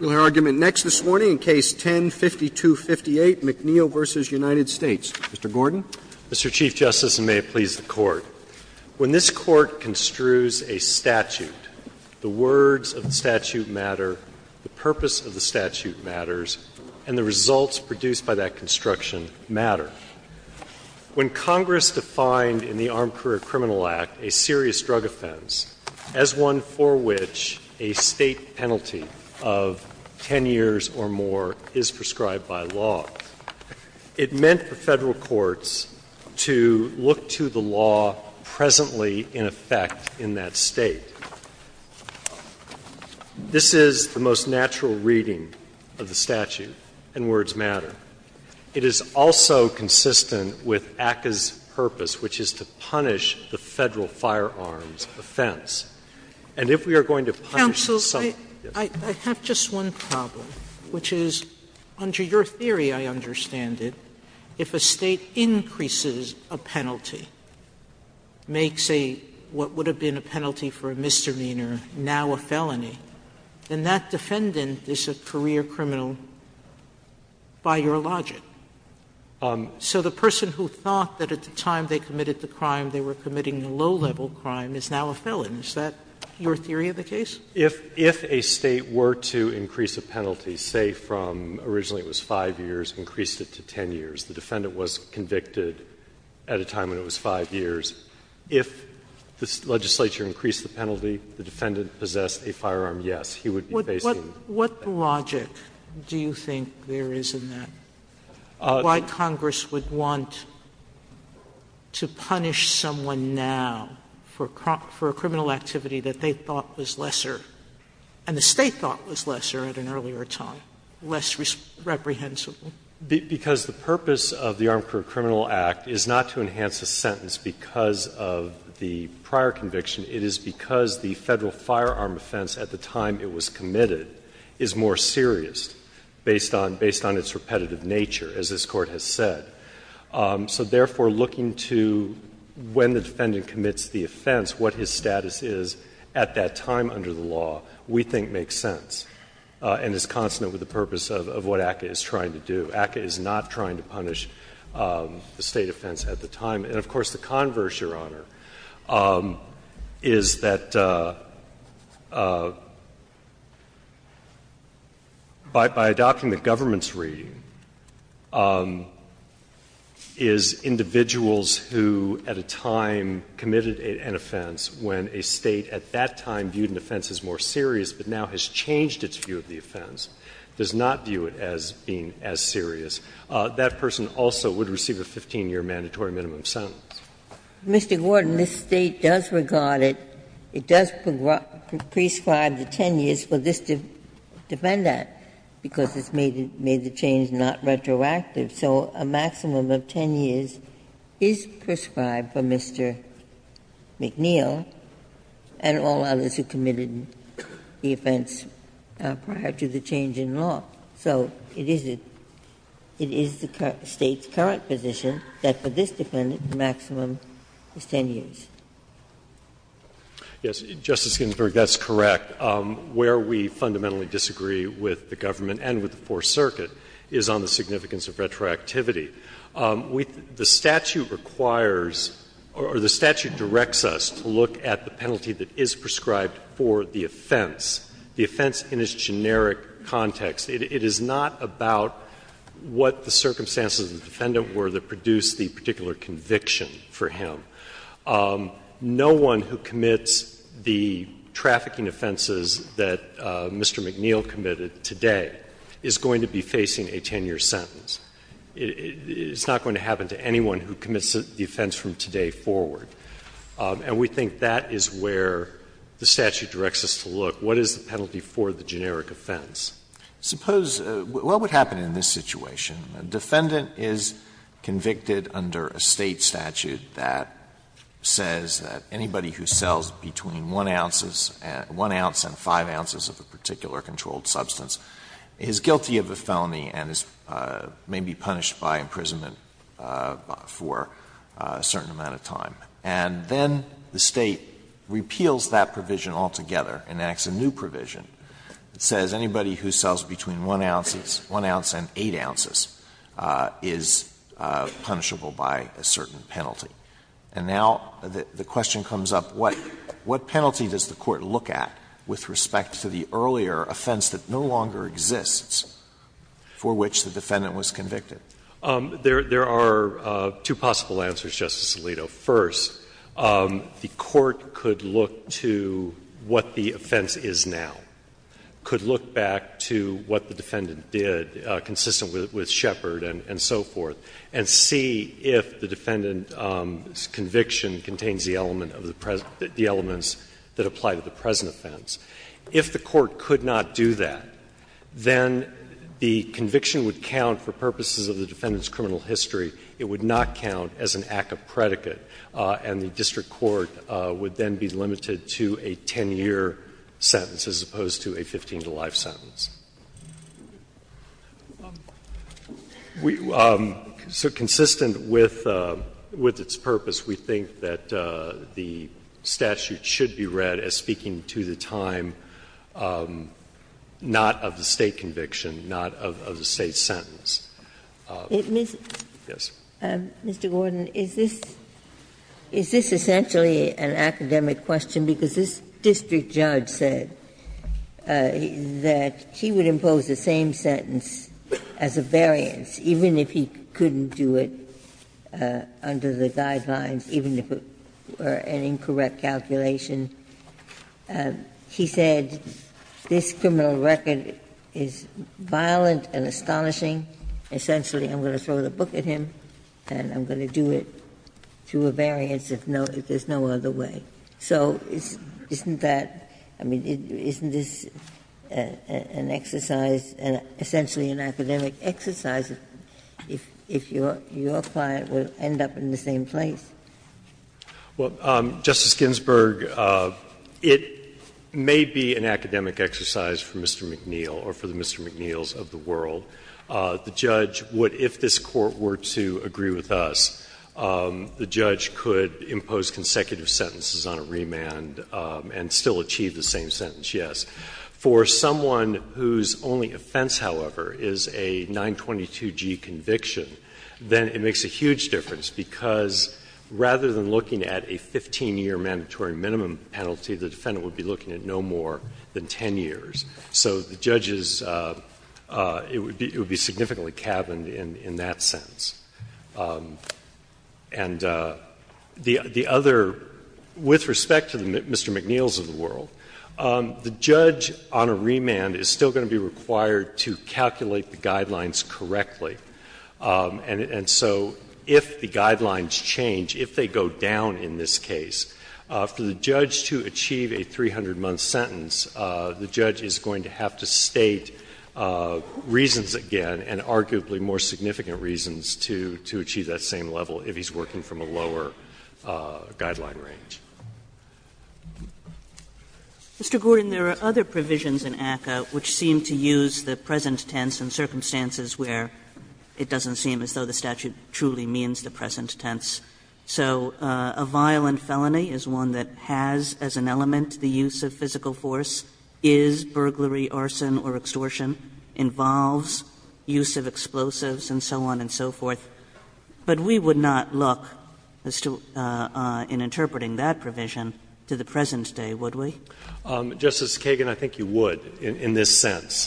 We'll hear argument next this morning in Case 10-5258, McNeill v. United States. Mr. Gordon. Mr. Chief Justice, and may it please the Court, when this Court construes a statute, the words of the statute matter, the purpose of the statute matters, and the results produced by that construction matter. When Congress defined in the Armed Career Criminal Act a serious drug offense as one for which a State penalty of 10 years or more is prescribed by law, it meant for Federal courts to look to the law presently in effect in that State. This is the most natural reading of the statute, and words matter. It is also consistent with ACCA's purpose, which is to punish the Federal firearms offense. And if we are going to punish something else. Sotomayor, I have just one problem, which is, under your theory, I understand it, if a State increases a penalty, makes a what would have been a penalty for a misdemeanor, now a felony, then that defendant is a career criminal by your logic. So the person who thought that at the time they committed the crime they were committing a low-level crime is now a felon. Is that your theory of the case? If a State were to increase a penalty, say from originally it was 5 years, increased it to 10 years, the defendant was convicted at a time when it was 5 years, if the defendant possessed a firearm, yes, he would be facing that penalty. Sotomayor, what logic do you think there is in that, why Congress would want to punish someone now for a criminal activity that they thought was lesser, and the State thought was lesser at an earlier time, less reprehensible? Because the purpose of the Armed Career Criminal Act is not to enhance a sentence because of the prior conviction, it is because the Federal firearm offense at the time it was committed is more serious based on its repetitive nature, as this Court has said. So therefore, looking to when the defendant commits the offense, what his status is at that time under the law, we think makes sense, and is consonant with the purpose of what ACCA is trying to do. ACCA is not trying to punish the State offense at the time. And of course, the converse, Your Honor, is that by adopting the government's reading, is individuals who at a time committed an offense when a State at that time viewed an offense as more serious, but now has changed its view of the offense, does not view it as being as serious, that person also would receive a 15-year mandatory minimum sentence. Ginsburg. Mr. Gordon, this State does regard it, it does prescribe the 10 years for this defendant because it's made the change not retroactive. So a maximum of 10 years is prescribed for Mr. McNeil and all others who committed the offense prior to the change in law. So it is the State's current position that for this defendant, the maximum is 10 years. Yes, Justice Ginsburg, that's correct. Where we fundamentally disagree with the government and with the Fourth Circuit is on the significance of retroactivity. The statute requires or the statute directs us to look at the penalty that is prescribed for the offense, the offense in its generic context. It is not about what the circumstances of the defendant were that produced the particular conviction for him. No one who commits the trafficking offenses that Mr. McNeil committed today is going to be facing a 10-year sentence. It's not going to happen to anyone who commits the offense from today forward. And we think that is where the statute directs us to look. What is the penalty for the generic offense? Suppose what would happen in this situation? A defendant is convicted under a State statute that says that anybody who sells between 1 ounce and 5 ounces of a particular controlled substance is guilty of a felony and may be punished by imprisonment for a certain amount of time. And then the State repeals that provision altogether and acts a new provision that says anybody who sells between 1 ounce and 8 ounces is punishable by a certain penalty. And now the question comes up, what penalty does the Court look at with respect to the earlier offense that no longer exists for which the defendant was convicted? There are two possible answers, Justice Alito. First, the Court could look to what the offense is now, could look back to what the defendant did consistent with Shepard and so forth, and see if the defendant's conviction contains the element of the present — the elements that apply to the present offense. If the Court could not do that, then the conviction would count for purposes of the defendant's criminal history. It would not count as an act of predicate, and the district court would then be limited to a 10-year sentence as opposed to a 15-to-life sentence. So consistent with its purpose, we think that the statute should be read as speaking to the time not of the State conviction, not of the State sentence. Ginsburg. Mr. Gordon, is this — is this essentially an academic question? Because this district judge said that he would impose the same sentence as a variance, even if he couldn't do it under the guidelines, even if it were an incorrect calculation. He said, this criminal record is violent and astonishing. Essentially, I'm going to throw the book at him, and I'm going to do it through a variance if no — if there's no other way. So isn't that — I mean, isn't this an exercise, essentially an academic exercise, if your client would end up in the same place? Well, Justice Ginsburg, it may be an academic exercise for Mr. McNeil or for the Mr. McNeils of the world. The judge would, if this Court were to agree with us, the judge could impose consecutive sentences on a remand and still achieve the same sentence, yes. For someone whose only offense, however, is a 922G conviction, then it makes a huge difference, because rather than looking at a 15-year mandatory minimum penalty, the defendant would be looking at no more than 10 years. So the judge is — it would be significantly cabined in that sense. And the other — with respect to Mr. McNeils of the world, the judge on a remand is still going to be required to calculate the guidelines correctly. And so if the guidelines change, if they go down in this case, for the judge to achieve a 300-month sentence, the judge is going to have to state reasons again and arguably more significant reasons to achieve that same level if he's working from a lower guideline range. Kagan. Mr. Gordon, there are other provisions in ACCA which seem to use the present tense in circumstances where it doesn't seem as though the statute truly means the present tense. So a violent felony is one that has as an element the use of physical force, is burglary arson or extortion, involves use of explosives, and so on and so forth. But we would not look in interpreting that provision to the present day, would we? Justice Kagan, I think you would in this sense.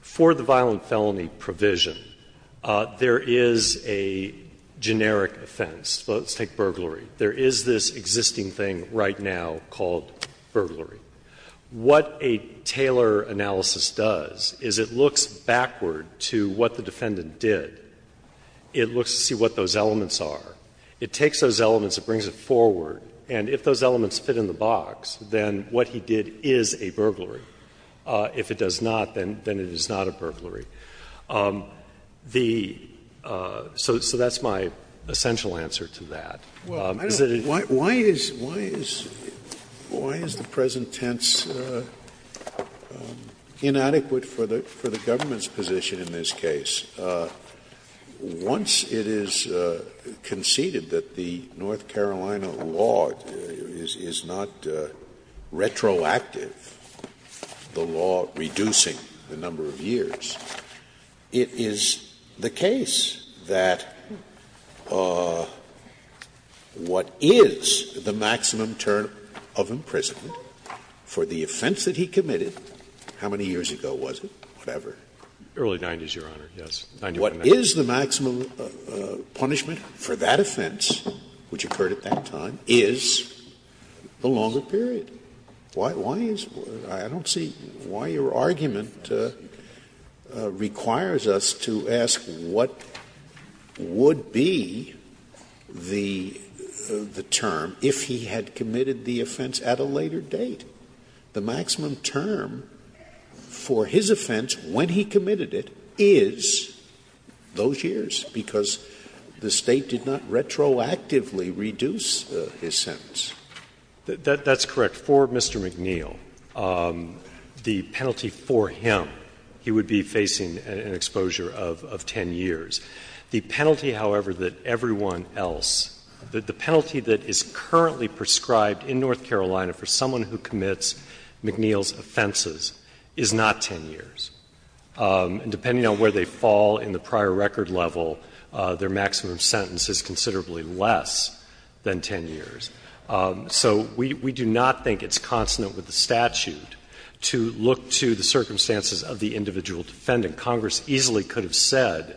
For the violent felony provision, there is a generic offense. Let's take burglary. There is this existing thing right now called burglary. What a Taylor analysis does is it looks backward to what the defendant did. It looks to see what those elements are. It takes those elements, it brings it forward, and if those elements fit in the box, then what he did is a burglary. If it does not, then it is not a burglary. The so that's my essential answer to that. Scalia Well, why is the present tense inadequate for the government's position in this case? Once it is conceded that the North Carolina law is not retroactive, the law reducing the number of years, it is the case that what is the maximum term of imprisonment for the offense that he committed, how many years ago was it, whatever? Early 90s, Your Honor, yes. 91. Scalia What is the maximum punishment for that offense, which occurred at that time, is a longer period. Why is why? I don't see why your argument requires us to ask what would be the term if he had committed the offense at a later date. The maximum term for his offense when he committed it is those years, because the State did not retroactively reduce his sentence. That's correct. For Mr. McNeil, the penalty for him, he would be facing an exposure of 10 years. The penalty, however, that everyone else, the penalty that is currently prescribed in North Carolina for someone who commits McNeil's offenses is not 10 years. And depending on where they fall in the prior record level, their maximum sentence is considerably less than 10 years. So we do not think it's consonant with the statute to look to the circumstances of the individual defendant. Congress easily could have said,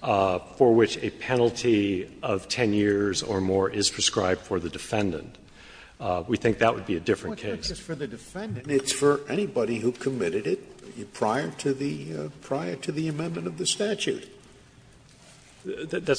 for which a penalty of 10 years or more is prescribed for the defendant. We think that would be a different case. Scalia It's for anybody who committed it prior to the amendment of the statute.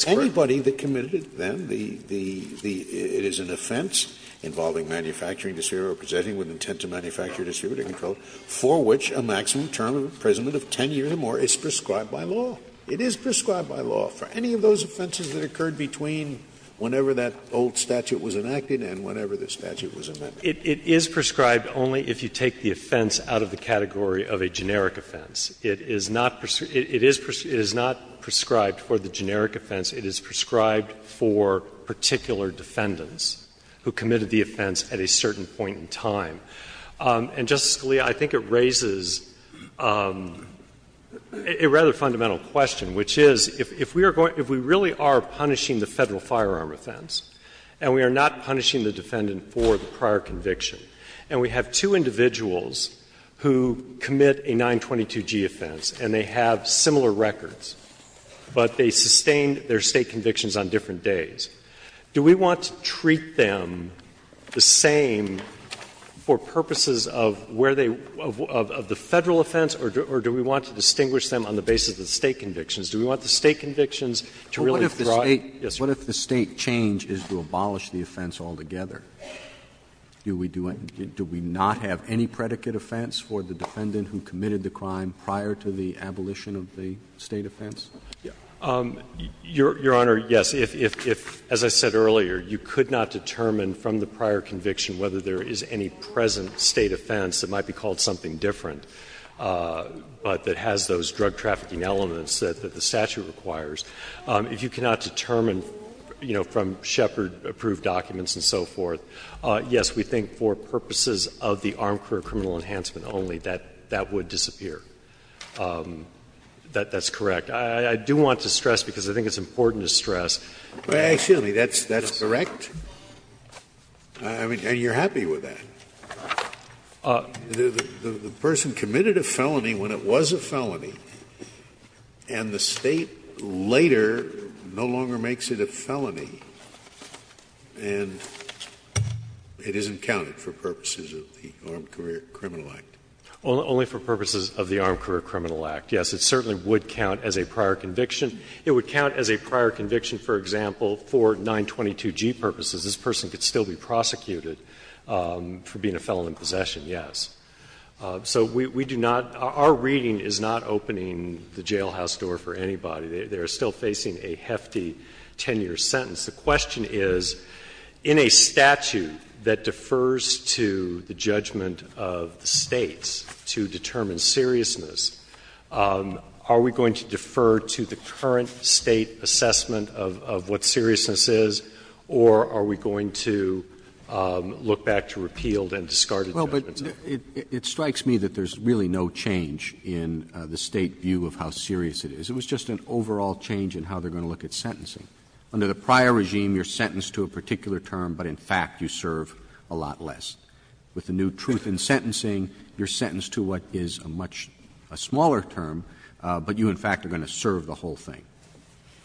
Anybody that committed it, then, it is an offense involving manufacturing disfavor or presenting with intent to manufacture a disfavor to control, for which a maximum term of imprisonment of 10 years or more is prescribed by law. It is prescribed by law for any of those offenses that occurred between whenever that old statute was enacted and whenever the statute was amended. It is prescribed only if you take the offense out of the category of a generic offense. It is not prescribed for the generic offense. It is prescribed for particular defendants who committed the offense at a certain point in time. And, Justice Scalia, I think it raises a rather fundamental question, which is, if we really are punishing the Federal firearm offense, and we are not punishing the defendant for the prior conviction, and we have two individuals who commit a 922G offense, and they have similar records, but they sustained their State convictions on different days, do we want to treat them the same for purposes of where they — of the Federal offense, or do we want to distinguish them on the basis of the State convictions? Do we want the State convictions to really throw out? Yes, Your Honor. Roberts. What if the State change is to abolish the offense altogether? Do we do — do we not have any predicate offense for the defendant who committed the crime prior to the abolition of the State offense? Your Honor, yes. If, as I said earlier, you could not determine from the prior conviction whether there is any present State offense that might be called something different, but that has those drug trafficking elements that the statute requires, if you cannot determine, you know, from Shepard-approved documents and so forth, yes, we think for purposes of the armed career criminal enhancement only, that that would disappear. That's correct. I do want to stress, because I think it's important to stress. Scalia. Actually, that's correct. I mean, and you're happy with that. The person committed a felony when it was a felony, and the State later no longer makes it a felony, and it isn't counted for purposes of the Armed Career Criminal Act. Only for purposes of the Armed Career Criminal Act, yes. It certainly would count as a prior conviction. It would count as a prior conviction, for example, for 922G purposes. This person could still be prosecuted for being a felon in possession, yes. So we do not — our reading is not opening the jailhouse door for anybody. They are still facing a hefty 10-year sentence. The question is, in a statute that defers to the judgment of the States to determine seriousness, are we going to defer to the current State assessment of what seriousness is, or are we going to look back to repealed and discarded judgments? Well, but it strikes me that there's really no change in the State view of how serious it is. It was just an overall change in how they're going to look at sentencing. Under the prior regime, you're sentenced to a particular term, but in fact you serve a lot less. With the new truth in sentencing, you're sentenced to what is a much — a smaller term, but you, in fact, are going to serve the whole thing.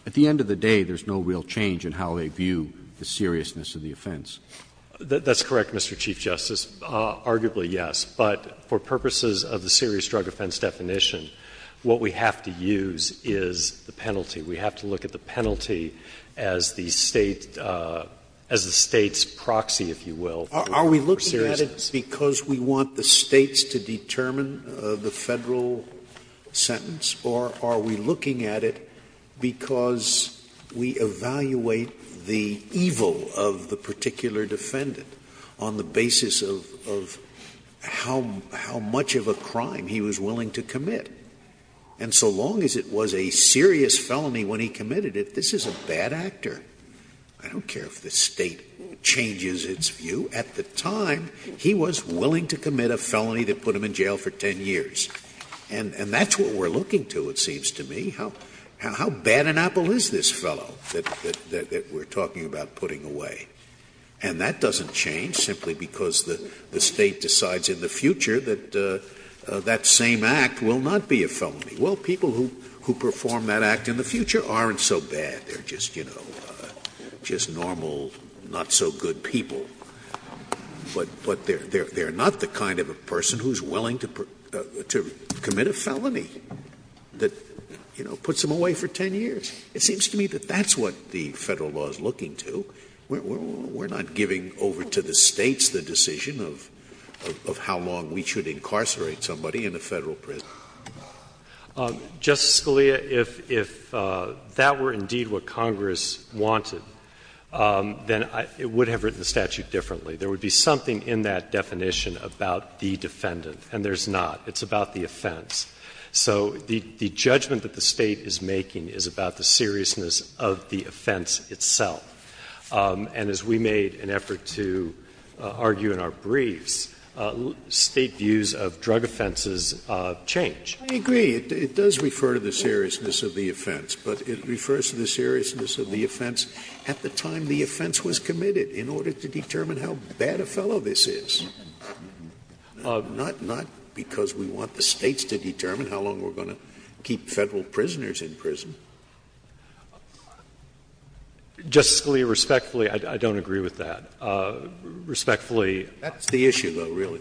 At the end of the day, there's no real change in how they view the seriousness of the offense. That's correct, Mr. Chief Justice. Arguably, yes. But for purposes of the serious drug offense definition, what we have to use is the penalty. We have to look at the penalty as the State's proxy, if you will, for seriousness. Are we looking at it because we want the States to determine the Federal sentence, or are we looking at it because we evaluate the evil of the particular defendant on the basis of how much of a crime he was willing to commit? And so long as it was a serious felony when he committed it, this is a bad actor. I don't care if the State changes its view. At the time, he was willing to commit a felony that put him in jail for 10 years. And that's what we're looking to, it seems to me. How bad an apple is this fellow that we're talking about putting away? And that doesn't change simply because the State decides in the future that that same act will not be a felony. Well, people who perform that act in the future aren't so bad. They're just, you know, just normal, not-so-good people. But they're not the kind of a person who's willing to commit a felony that, you know, puts him away for 10 years. It seems to me that that's what the Federal law is looking to. We're not giving over to the States the decision of how long we should incarcerate somebody in a Federal prison. Justice Scalia, if that were indeed what Congress wanted, then it would have written the statute differently. There would be something in that definition about the defendant, and there's not. It's about the offense. So the judgment that the State is making is about the seriousness of the offense itself. And as we made an effort to argue in our briefs, State views of drug offenses change. Scalia, I agree. It does refer to the seriousness of the offense, but it refers to the seriousness of the offense at the time the offense was committed in order to determine how bad a fellow this is. Not because we want the States to determine how long we're going to keep Federal prisoners in prison. Justice Scalia, respectfully, I don't agree with that. Respectfully. That's the issue, though, really.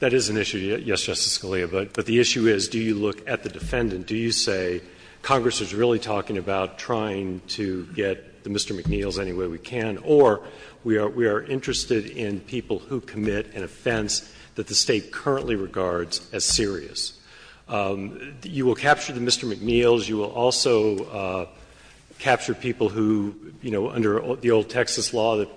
That is an issue, yes, Justice Scalia, but the issue is, do you look at the defendant? Do you say Congress is really talking about trying to get Mr. McNeil's any way we can, or we are interested in people who commit an offense that the State currently regards as serious? You will capture the Mr. McNeil's. You will also capture people who, you know, under the old Texas law that,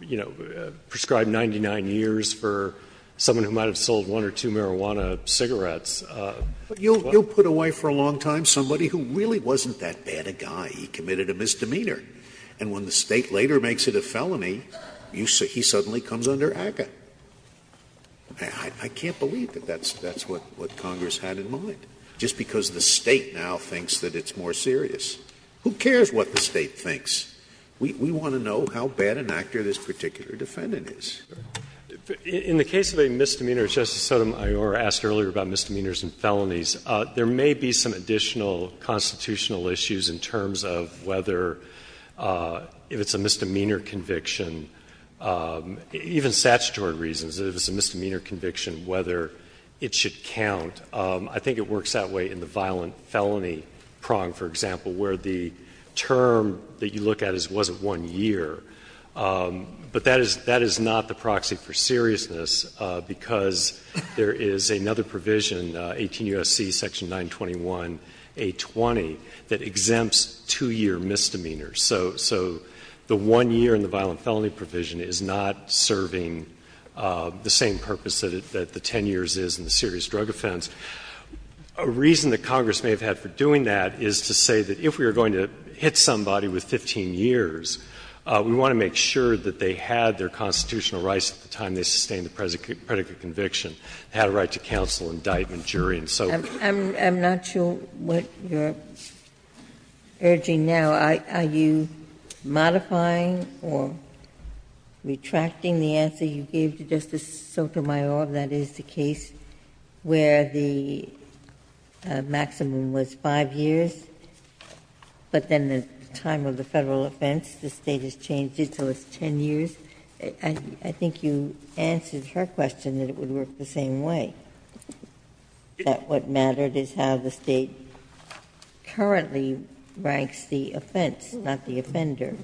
you know, prescribed 99 years for someone who might have sold one or two marijuana cigarettes. Scalia, you will put away for a long time somebody who really wasn't that bad a guy. He committed a misdemeanor. And when the State later makes it a felony, he suddenly comes under ACCA. I can't believe that that's what Congress had in mind, just because the State now thinks that it's more serious. Who cares what the State thinks? We want to know how bad an actor this particular defendant is. In the case of a misdemeanor, Justice Sotomayor asked earlier about misdemeanors and felonies. There may be some additional constitutional issues in terms of whether, if it's a misdemeanor conviction, even statutory reasons, if it's a misdemeanor conviction, whether it should count. I think it works that way in the violent felony prong, for example, where the term that you look at is, was it one year? But that is not the proxy for seriousness, because there is another provision, 18 U.S.C. section 921a20, that exempts two-year misdemeanors. So the one year in the violent felony provision is not serving the same purpose that the 10 years is in the serious drug offense. A reason that Congress may have had for doing that is to say that if we were going to hit somebody with 15 years, we want to make sure that they had their constitutional rights at the time they sustained the predicate conviction, had a right to counsel, indictment, jury, and so forth. Ginsburg. I'm not sure what you're urging now. Are you modifying or retracting the answer you gave to Justice Sotomayor, that is, if it's a case where the maximum was 5 years, but then the time of the Federal offense, the State has changed it so it's 10 years, I think you answered her question that it would work the same way, that what mattered is how the State currently ranks the offense, not the offender.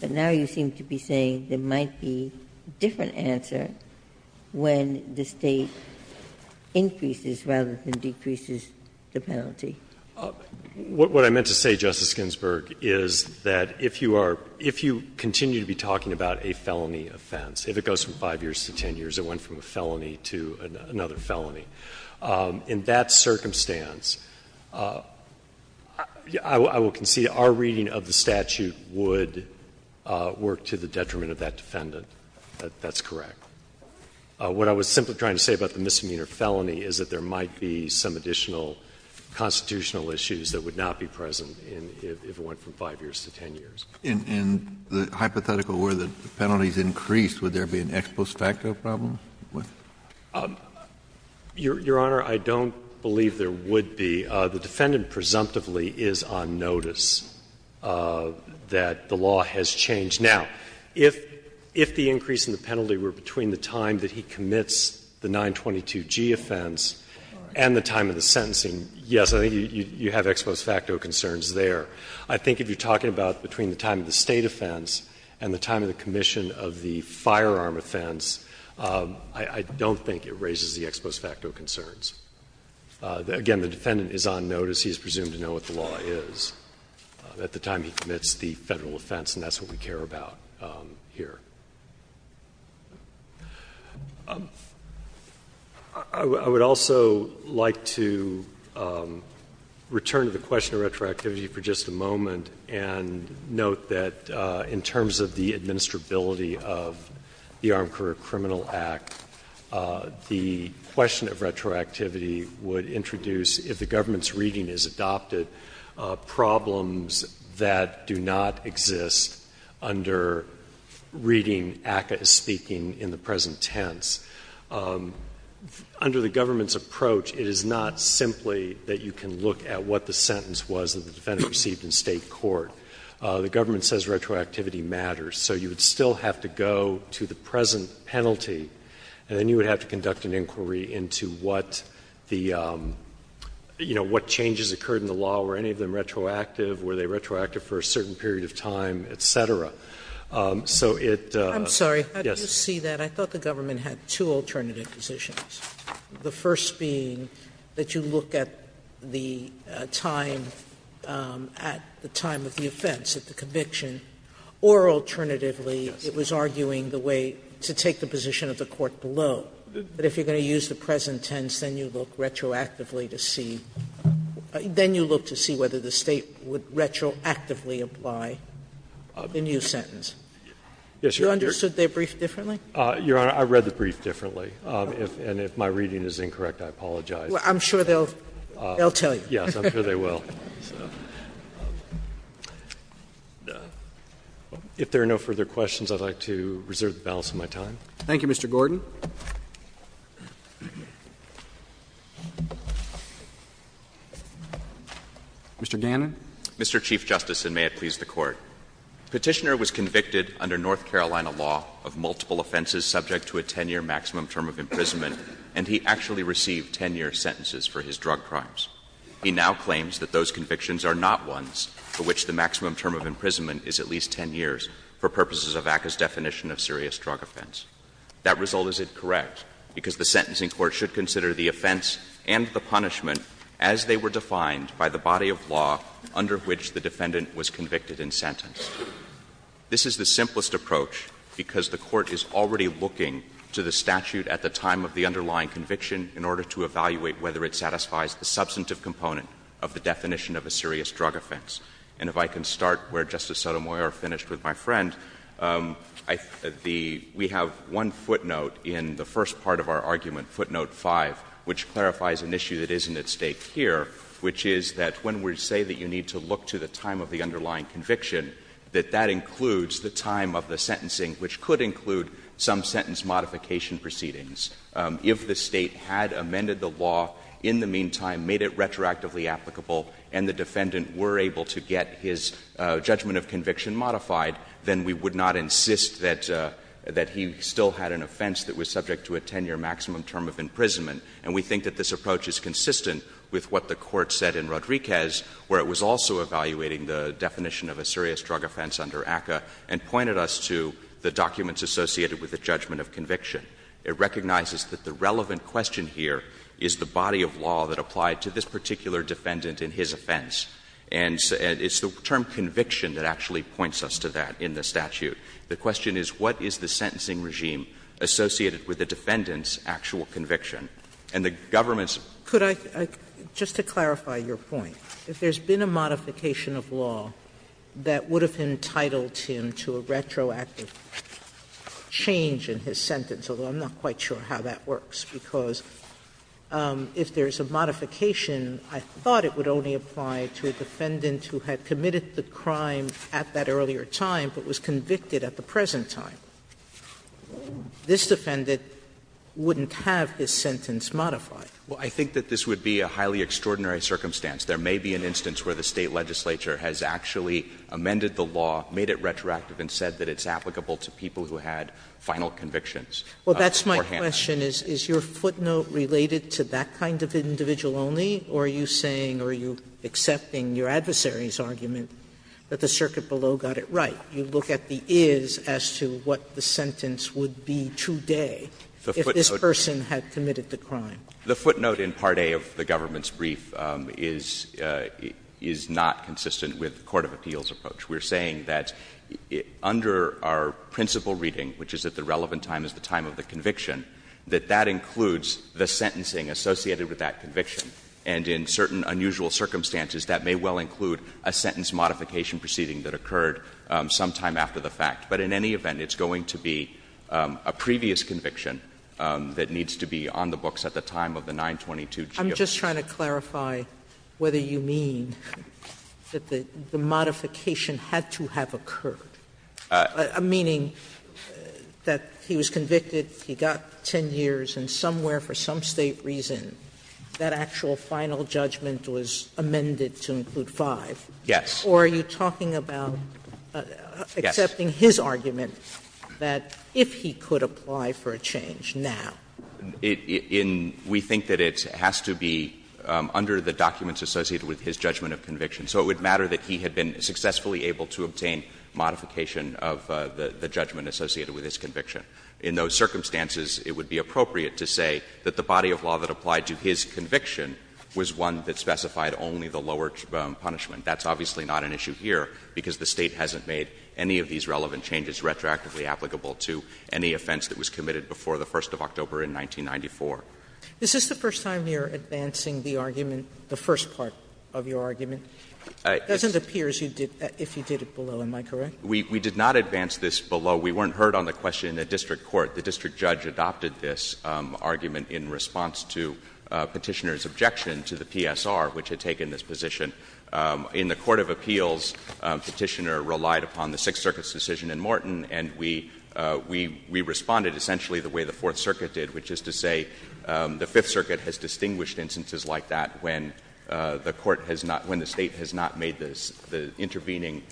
But now you seem to be saying there might be a different answer when the State increases rather than decreases the penalty. What I meant to say, Justice Ginsburg, is that if you are — if you continue to be talking about a felony offense, if it goes from 5 years to 10 years, it went from a felony to another felony, in that circumstance, I will concede our reading of the statute would work to the detriment of that defendant. That's correct. What I was simply trying to say about the misdemeanor felony is that there might be some additional constitutional issues that would not be present if it went from 5 years to 10 years. Kennedy. In the hypothetical where the penalties increased, would there be an ex post facto problem? Your Honor, I don't believe there would be. The defendant presumptively is on notice. That the law has changed. Now, if the increase in the penalty were between the time that he commits the 922G offense and the time of the sentencing, yes, I think you have ex post facto concerns there. I think if you are talking about between the time of the State offense and the time of the commission of the firearm offense, I don't think it raises the ex post facto concerns. Again, the defendant is on notice. He is presumed to know what the law is. At the time he commits the Federal offense, and that's what we care about here. I would also like to return to the question of retroactivity for just a moment and note that in terms of the administrability of the Armed Career Criminal Act, the question of retroactivity would introduce, if the government's reading is adopted, problems that do not exist under reading ACCA as speaking in the present tense. Under the government's approach, it is not simply that you can look at what the sentence was that the defendant received in State court. The government says retroactivity matters. So you would still have to go to the present penalty, and then you would have to were any of them retroactive, were they retroactive for a certain period of time, et cetera. So it, yes. Sotomayor, I'm sorry, how do you see that? I thought the government had two alternative positions, the first being that you look at the time, at the time of the offense, at the conviction, or alternatively it was arguing the way to take the position of the court below. But if you are going to use the present tense, then you look retroactively to see, then you look to see whether the State would retroactively apply the new sentence. You understood their brief differently? Your Honor, I read the brief differently, and if my reading is incorrect, I apologize. I'm sure they'll tell you. Yes, I'm sure they will. If there are no further questions, I would like to reserve the balance of my time. Thank you, Mr. Gordon. Mr. Gannon. Mr. Chief Justice, and may it please the Court. Petitioner was convicted under North Carolina law of multiple offenses subject to a 10-year maximum term of imprisonment, and he actually received 10-year sentences for his drug crimes. He now claims that those convictions are not ones for which the maximum term of imprisonment is at least 10 years for purposes of ACCA's definition of serious drug offense. That result is incorrect, because the sentencing court should consider the offense and the punishment as they were defined by the body of law under which the defendant was convicted and sentenced. This is the simplest approach, because the Court is already looking to the statute at the time of the underlying conviction in order to evaluate whether it satisfies the substantive component of the definition of a serious drug offense. And if I can start where Justice Sotomayor finished with my friend, I the — we have one footnote in the first part of our argument, footnote 5, which clarifies an issue that isn't at stake here, which is that when we say that you need to look to the time of the underlying conviction, that that includes the time of the sentencing, which could include some sentence modification proceedings. If the State had amended the law in the meantime, made it retroactively applicable, and the defendant were able to get his judgment of conviction modified, then we would not insist that he still had an offense that was subject to a 10-year maximum term of imprisonment. And we think that this approach is consistent with what the Court said in Rodriguez, where it was also evaluating the definition of a serious drug offense under ACCA and pointed us to the documents associated with the judgment of conviction. It recognizes that the relevant question here is the body of law that applied to this particular defendant in his offense. And it's the term conviction that actually points us to that in the statute. The question is what is the sentencing regime associated with the defendant's actual conviction. And the government's — Sotomayor, just to clarify your point, if there's been a modification of law that would have entitled him to a retroactive change in his sentence, although I'm not quite sure how that works, because if there's a modification, I thought it would only apply to a defendant who had committed the crime at that earlier time but was convicted at the present time. This defendant wouldn't have his sentence modified. Well, I think that this would be a highly extraordinary circumstance. There may be an instance where the State legislature has actually amended the law, made it retroactive, and said that it's applicable to people who had final convictions beforehand. Well, that's my question. Is your footnote related to that kind of individual only, or are you saying or are you accepting your adversary's argument that the circuit below got it right? You look at the is as to what the sentence would be today if this person had committed the crime. The footnote in Part A of the government's brief is not consistent with the court of appeals approach. We're saying that under our principle reading, which is that the relevant time is the time of the conviction, that that includes the sentencing associated with that conviction. And in certain unusual circumstances, that may well include a sentence modification proceeding that occurred sometime after the fact. But in any event, it's going to be a previous conviction that needs to be on the books at the time of the 922G of the statute. Sotomayor, I'm just trying to clarify whether you mean that the modification had to have occurred. Meaning that he was convicted, he got 10 years, and somewhere for some State reason that actual final judgment was amended to include 5. Yes. Or are you talking about accepting his argument that if he could apply for a change now? In we think that it has to be under the documents associated with his judgment of conviction. So it would matter that he had been successfully able to obtain modification of the judgment associated with his conviction. In those circumstances, it would be appropriate to say that the body of law that applied to his conviction was one that specified only the lower punishment. That's obviously not an issue here, because the State hasn't made any of these relevant changes retroactively applicable to any offense that was committed before the 1st of October in 1994. Is this the first time you're advancing the argument, the first part of your argument? It doesn't appear as if you did it below. Am I correct? We did not advance this below. We weren't heard on the question in the district court. The district judge adopted this argument in response to Petitioner's objection to the PSR, which had taken this position. In the court of appeals, Petitioner relied upon the Sixth Circuit's decision in Morton, and we responded essentially the way the Fourth Circuit did, which is to say the Fifth Circuit has distinguished instances like that when the Court has not — when the State has not made the intervening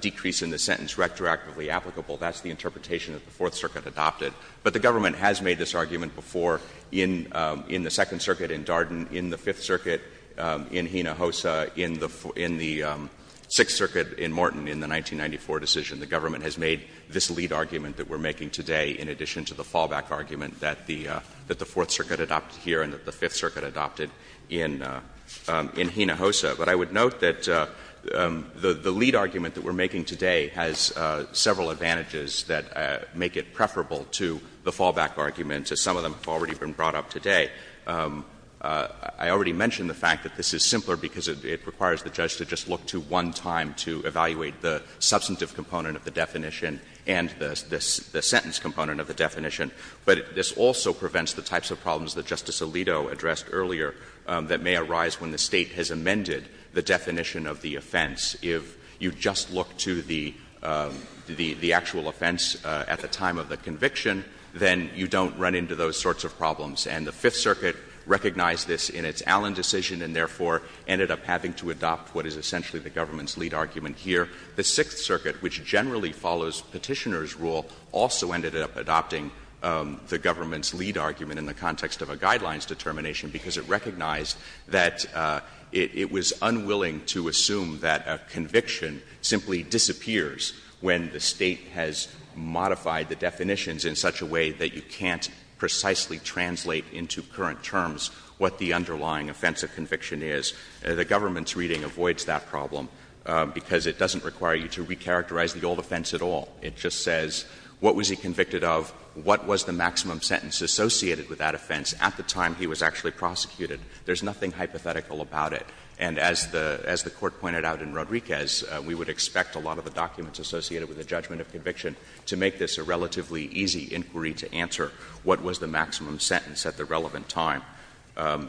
decrease in the sentence retroactively applicable. That's the interpretation that the Fourth Circuit adopted. But the government has made this argument before in the Second Circuit in Darden, in the Fifth Circuit in Hinojosa, in the Sixth Circuit in Morton in the 1994 decision. The government has made this lead argument that we're making today in addition to the fallback argument that the Fourth Circuit adopted here and that the Fifth Circuit adopted in Hinojosa. But I would note that the lead argument that we're making today has several advantages that make it preferable to the fallback argument, as some of them have already been brought up today. I already mentioned the fact that this is simpler because it requires the judge to just look to one time to evaluate the substantive component of the definition and the sentence component of the definition. But this also prevents the types of problems that Justice Alito addressed earlier that may arise when the State has amended the definition of the offense. If you just look to the actual offense at the time of the conviction, then you don't run into those sorts of problems. And the Fifth Circuit recognized this in its Allen decision and, therefore, ended up having to adopt what is essentially the government's lead argument here. The Sixth Circuit, which generally follows Petitioner's rule, also ended up adopting the government's lead argument in the context of a guidelines determination because it recognized that it was unwilling to assume that a conviction simply disappears when the State has modified the definitions in such a way that you can't precisely translate into current terms what the underlying offense of conviction is. The government's reading avoids that problem because it doesn't require you to recharacterize the old offense at all. It just says what was he convicted of, what was the maximum sentence associated with that offense at the time he was actually prosecuted. There's nothing hypothetical about it. And as the Court pointed out in Rodriguez, we would expect a lot of the documents associated with the judgment of conviction to make this a relatively easy inquiry to answer what was the maximum sentence at the relevant time.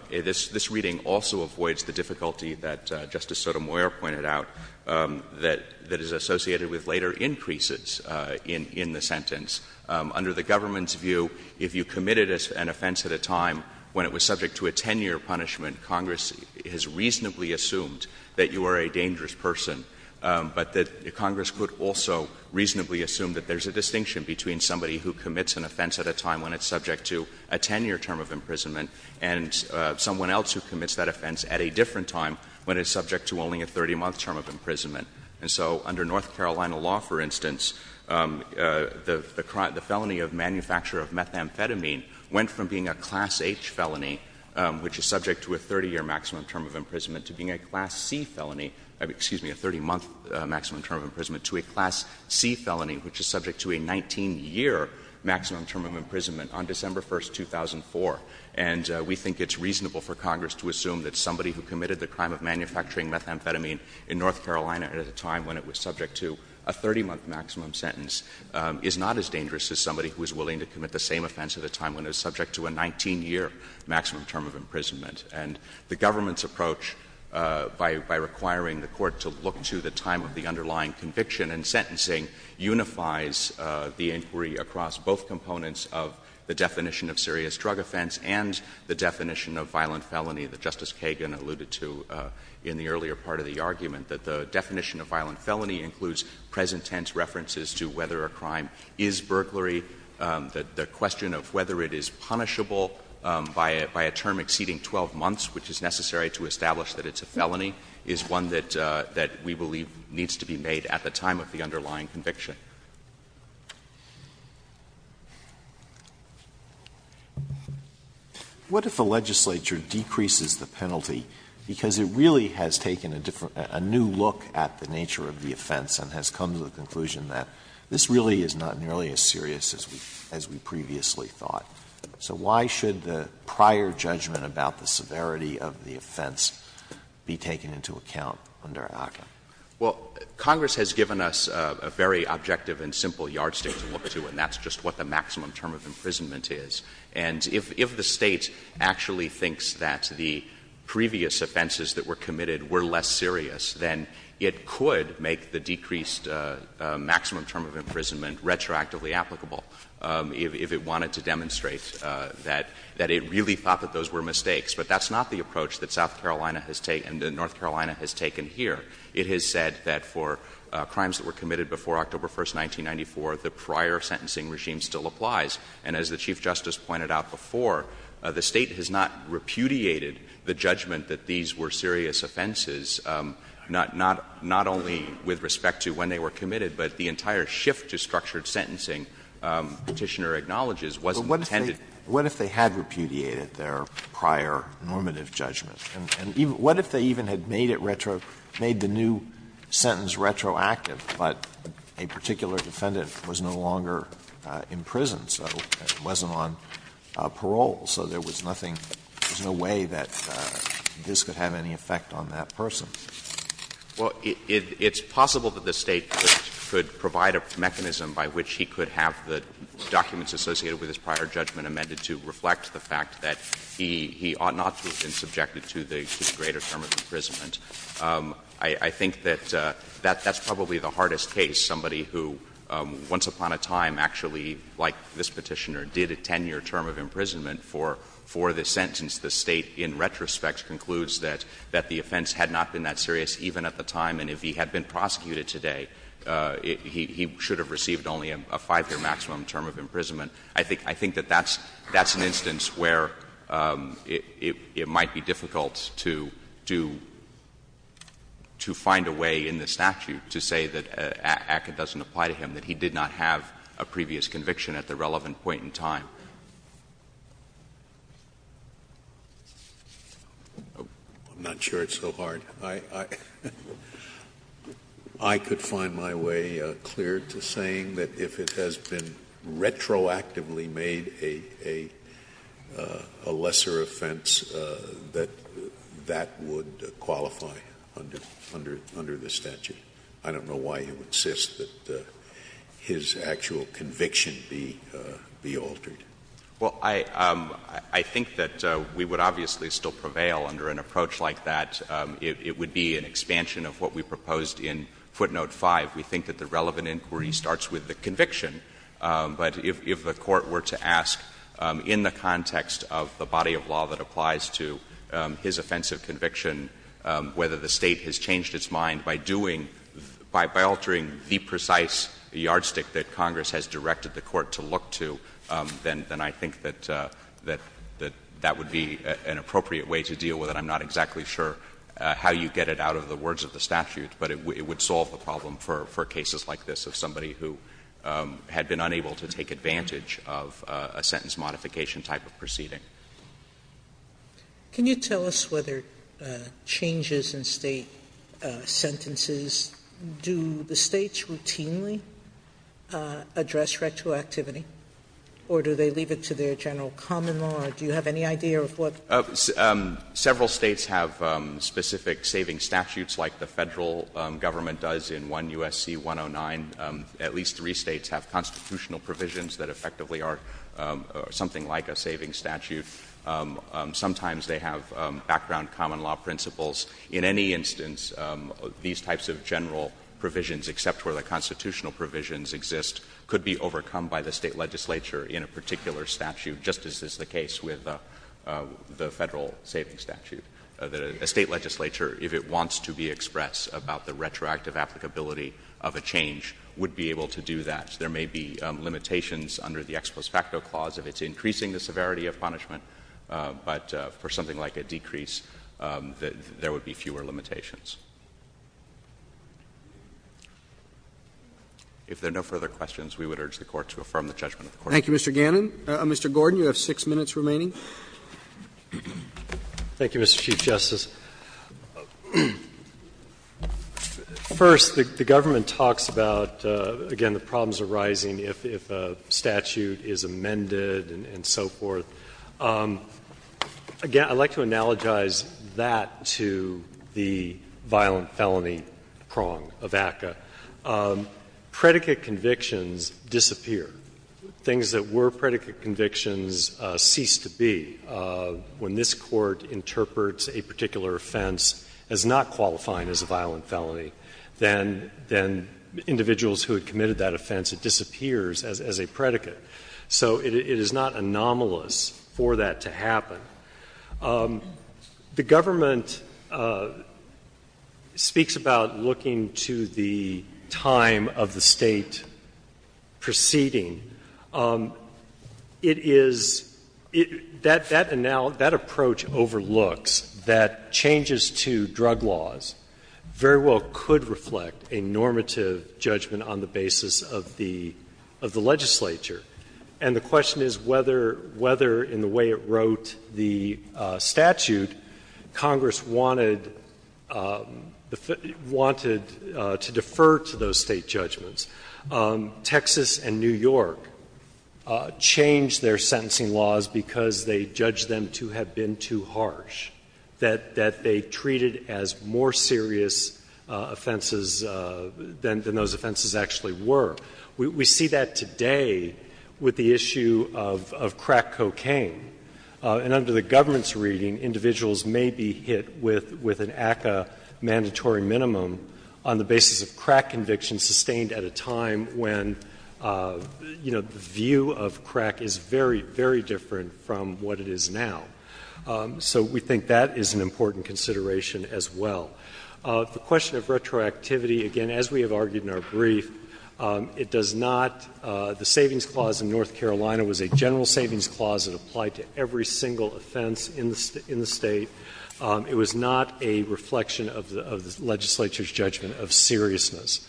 This reading also avoids the difficulty that Justice Sotomayor pointed out that is associated with later increases in the sentence. Under the government's view, if you committed an offense at a time when it was subject to a 10-year punishment, Congress has reasonably assumed that you are a dangerous person. But Congress could also reasonably assume that there's a distinction between somebody who commits an offense at a time when it's subject to a 10-year term of imprisonment and someone else who commits that offense at a different time when it's subject to only a 30-month term of imprisonment. And so under North Carolina law, for instance, the felony of manufacture of methamphetamine went from being a Class H felony, which is subject to a 30-year maximum term of imprisonment, to being a Class C felony, excuse me, a 30-month maximum term of imprisonment, to a Class C maximum term of imprisonment on December 1, 2004. And we think it's reasonable for Congress to assume that somebody who committed the crime of manufacturing methamphetamine in North Carolina at a time when it was subject to a 30-month maximum sentence is not as dangerous as somebody who is willing to commit the same offense at a time when it was subject to a 19-year maximum term of imprisonment. And the government's approach, by requiring the Court to look to the time of the underlying conviction and sentencing, unifies the inquiry across both components of the definition of serious drug offense and the definition of violent felony that Justice Kagan alluded to in the earlier part of the argument, that the definition of violent felony includes present-tense references to whether a crime is burglary. The question of whether it is punishable by a term exceeding 12 months, which is necessary to establish that it's a felony, is one that we believe needs to be made at the time of the underlying conviction. Alito What if a legislature decreases the penalty because it really has taken a new look at the nature of the offense and has come to the conclusion that this really is not nearly as serious as we previously thought? So why should the prior judgment about the severity of the offense be taken into account under ACCA? Well, Congress has given us a very objective and simple yardstick to look to, and that's just what the maximum term of imprisonment is. And if the State actually thinks that the previous offenses that were committed were less serious, then it could make the decreased maximum term of imprisonment retroactively applicable if it wanted to demonstrate that it really thought that those were mistakes. But that's not the approach that South Carolina has taken and that North Carolina has taken here. It has said that for crimes that were committed before October 1, 1994, the prior sentencing regime still applies. And as the Chief Justice pointed out before, the State has not repudiated the judgment that these were serious offenses, not only with respect to when they were committed, but the entire shift to structured sentencing, Petitioner acknowledges, wasn't intended. But what if they had repudiated their prior normative judgment? And what if they even had made it retro, made the new sentence retroactive, but a particular defendant was no longer in prison, so it wasn't on parole, so there was nothing, there was no way that this could have any effect on that person? Well, it's possible that the State could provide a mechanism by which he could have the documents associated with his prior judgment amended to reflect the fact that he ought not to have been subjected to the greater term of imprisonment. I think that that's probably the hardest case. Somebody who once upon a time actually, like this Petitioner, did a 10-year term of imprisonment for this sentence. The State, in retrospect, concludes that the offense had not been that serious even at the time, and if he had been prosecuted today, he should have received only a 5-year maximum term of imprisonment. I think that that's an instance where it might be difficult to find a way in the statute to say that ACCA doesn't apply to him, that he did not have a previous conviction at the relevant point in time. I'm not sure it's so hard. I could find my way clear to saying that if it has been retroactively made a lesser offense, that that would qualify under the statute. I don't know why you would insist that his actual conviction be altered. Well, I think that we would obviously still prevail under an approach like that. It would be an expansion of what we proposed in footnote 5. We think that the relevant inquiry starts with the conviction, but if the Court were to ask in the context of the body of law that applies to his offensive conviction whether the State has changed its mind by doing — by altering the precise yardstick that Congress has directed the Court to look to, then I think that that would be an appropriate way to deal with it. I'm not exactly sure how you get it out of the words of the statute, but it would solve the problem for cases like this of somebody who had been unable to take advantage of a sentence modification type of proceeding. Sotomayor, can you tell us whether changes in State sentences, do the States routinely address retroactivity, or do they leave it to their general common law? Do you have any idea of what? Several States have specific saving statutes like the Federal government does in 1 U.S.C. 109. At least three States have constitutional provisions that effectively are something like a saving statute. Sometimes they have background common law principles. In any instance, these types of general provisions, except where the constitutional provisions exist, could be overcome by the State legislature in a particular statute, just as is the case with the Federal saving statute. A State legislature, if it wants to be express about the retroactive applicability of a change, would be able to do that. There may be limitations under the ex post facto clause if it's increasing the severity of punishment, but for something like a decrease, there would be fewer limitations. If there are no further questions, we would urge the Court to affirm the judgment of the Court. Thank you, Mr. Gannon. Mr. Gordon, you have 6 minutes remaining. Thank you, Mr. Chief Justice. First, the government talks about, again, the problems arising if a statute is amended and so forth. Again, I would like to analogize that to the violent felony prong of ACCA. Predicate convictions disappear. Things that were predicate convictions cease to be when this Court interprets a particular offense as not qualifying as a violent felony. Then individuals who had committed that offense, it disappears as a predicate. So it is not anomalous for that to happen. The government speaks about looking to the time of the State proceeding. It is — that approach overlooks that changes to drug laws very well could reflect a normative judgment on the basis of the legislature. And the question is whether, in the way it wrote the statute, Congress wanted to defer to those State judgments. Texas and New York changed their sentencing laws because they judged them to have been too harsh, that they treated as more serious offenses than those offenses actually were. We see that today with the issue of crack cocaine. And under the government's reading, individuals may be hit with an ACCA mandatory minimum on the basis of crack conviction sustained at a time when, you know, the view of crack is very, very different from what it is now. So we think that is an important consideration as well. The question of retroactivity, again, as we have argued in our brief, it does not — the Savings Clause in North Carolina was a general savings clause that applied to every single offense in the State. It was not a reflection of the legislature's judgment of seriousness.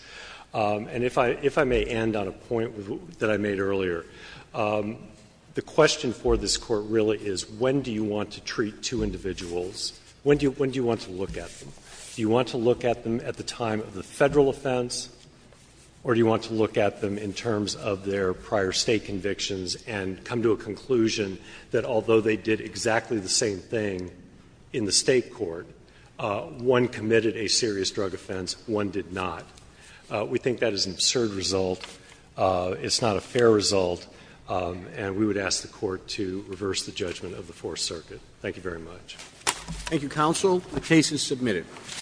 And if I may end on a point that I made earlier, the question for this Court really is when do you want to treat two individuals, when do you want to look at them? Do you want to look at them at the time of the Federal offense, or do you want to look at them in terms of their prior State convictions and come to a conclusion that although they did exactly the same thing in the State court, one committed a serious drug offense, one did not? We think that is an absurd result. It's not a fair result. And we would ask the Court to reverse the judgment of the Fourth Circuit. Thank you very much. Thank you, counsel. The case is submitted.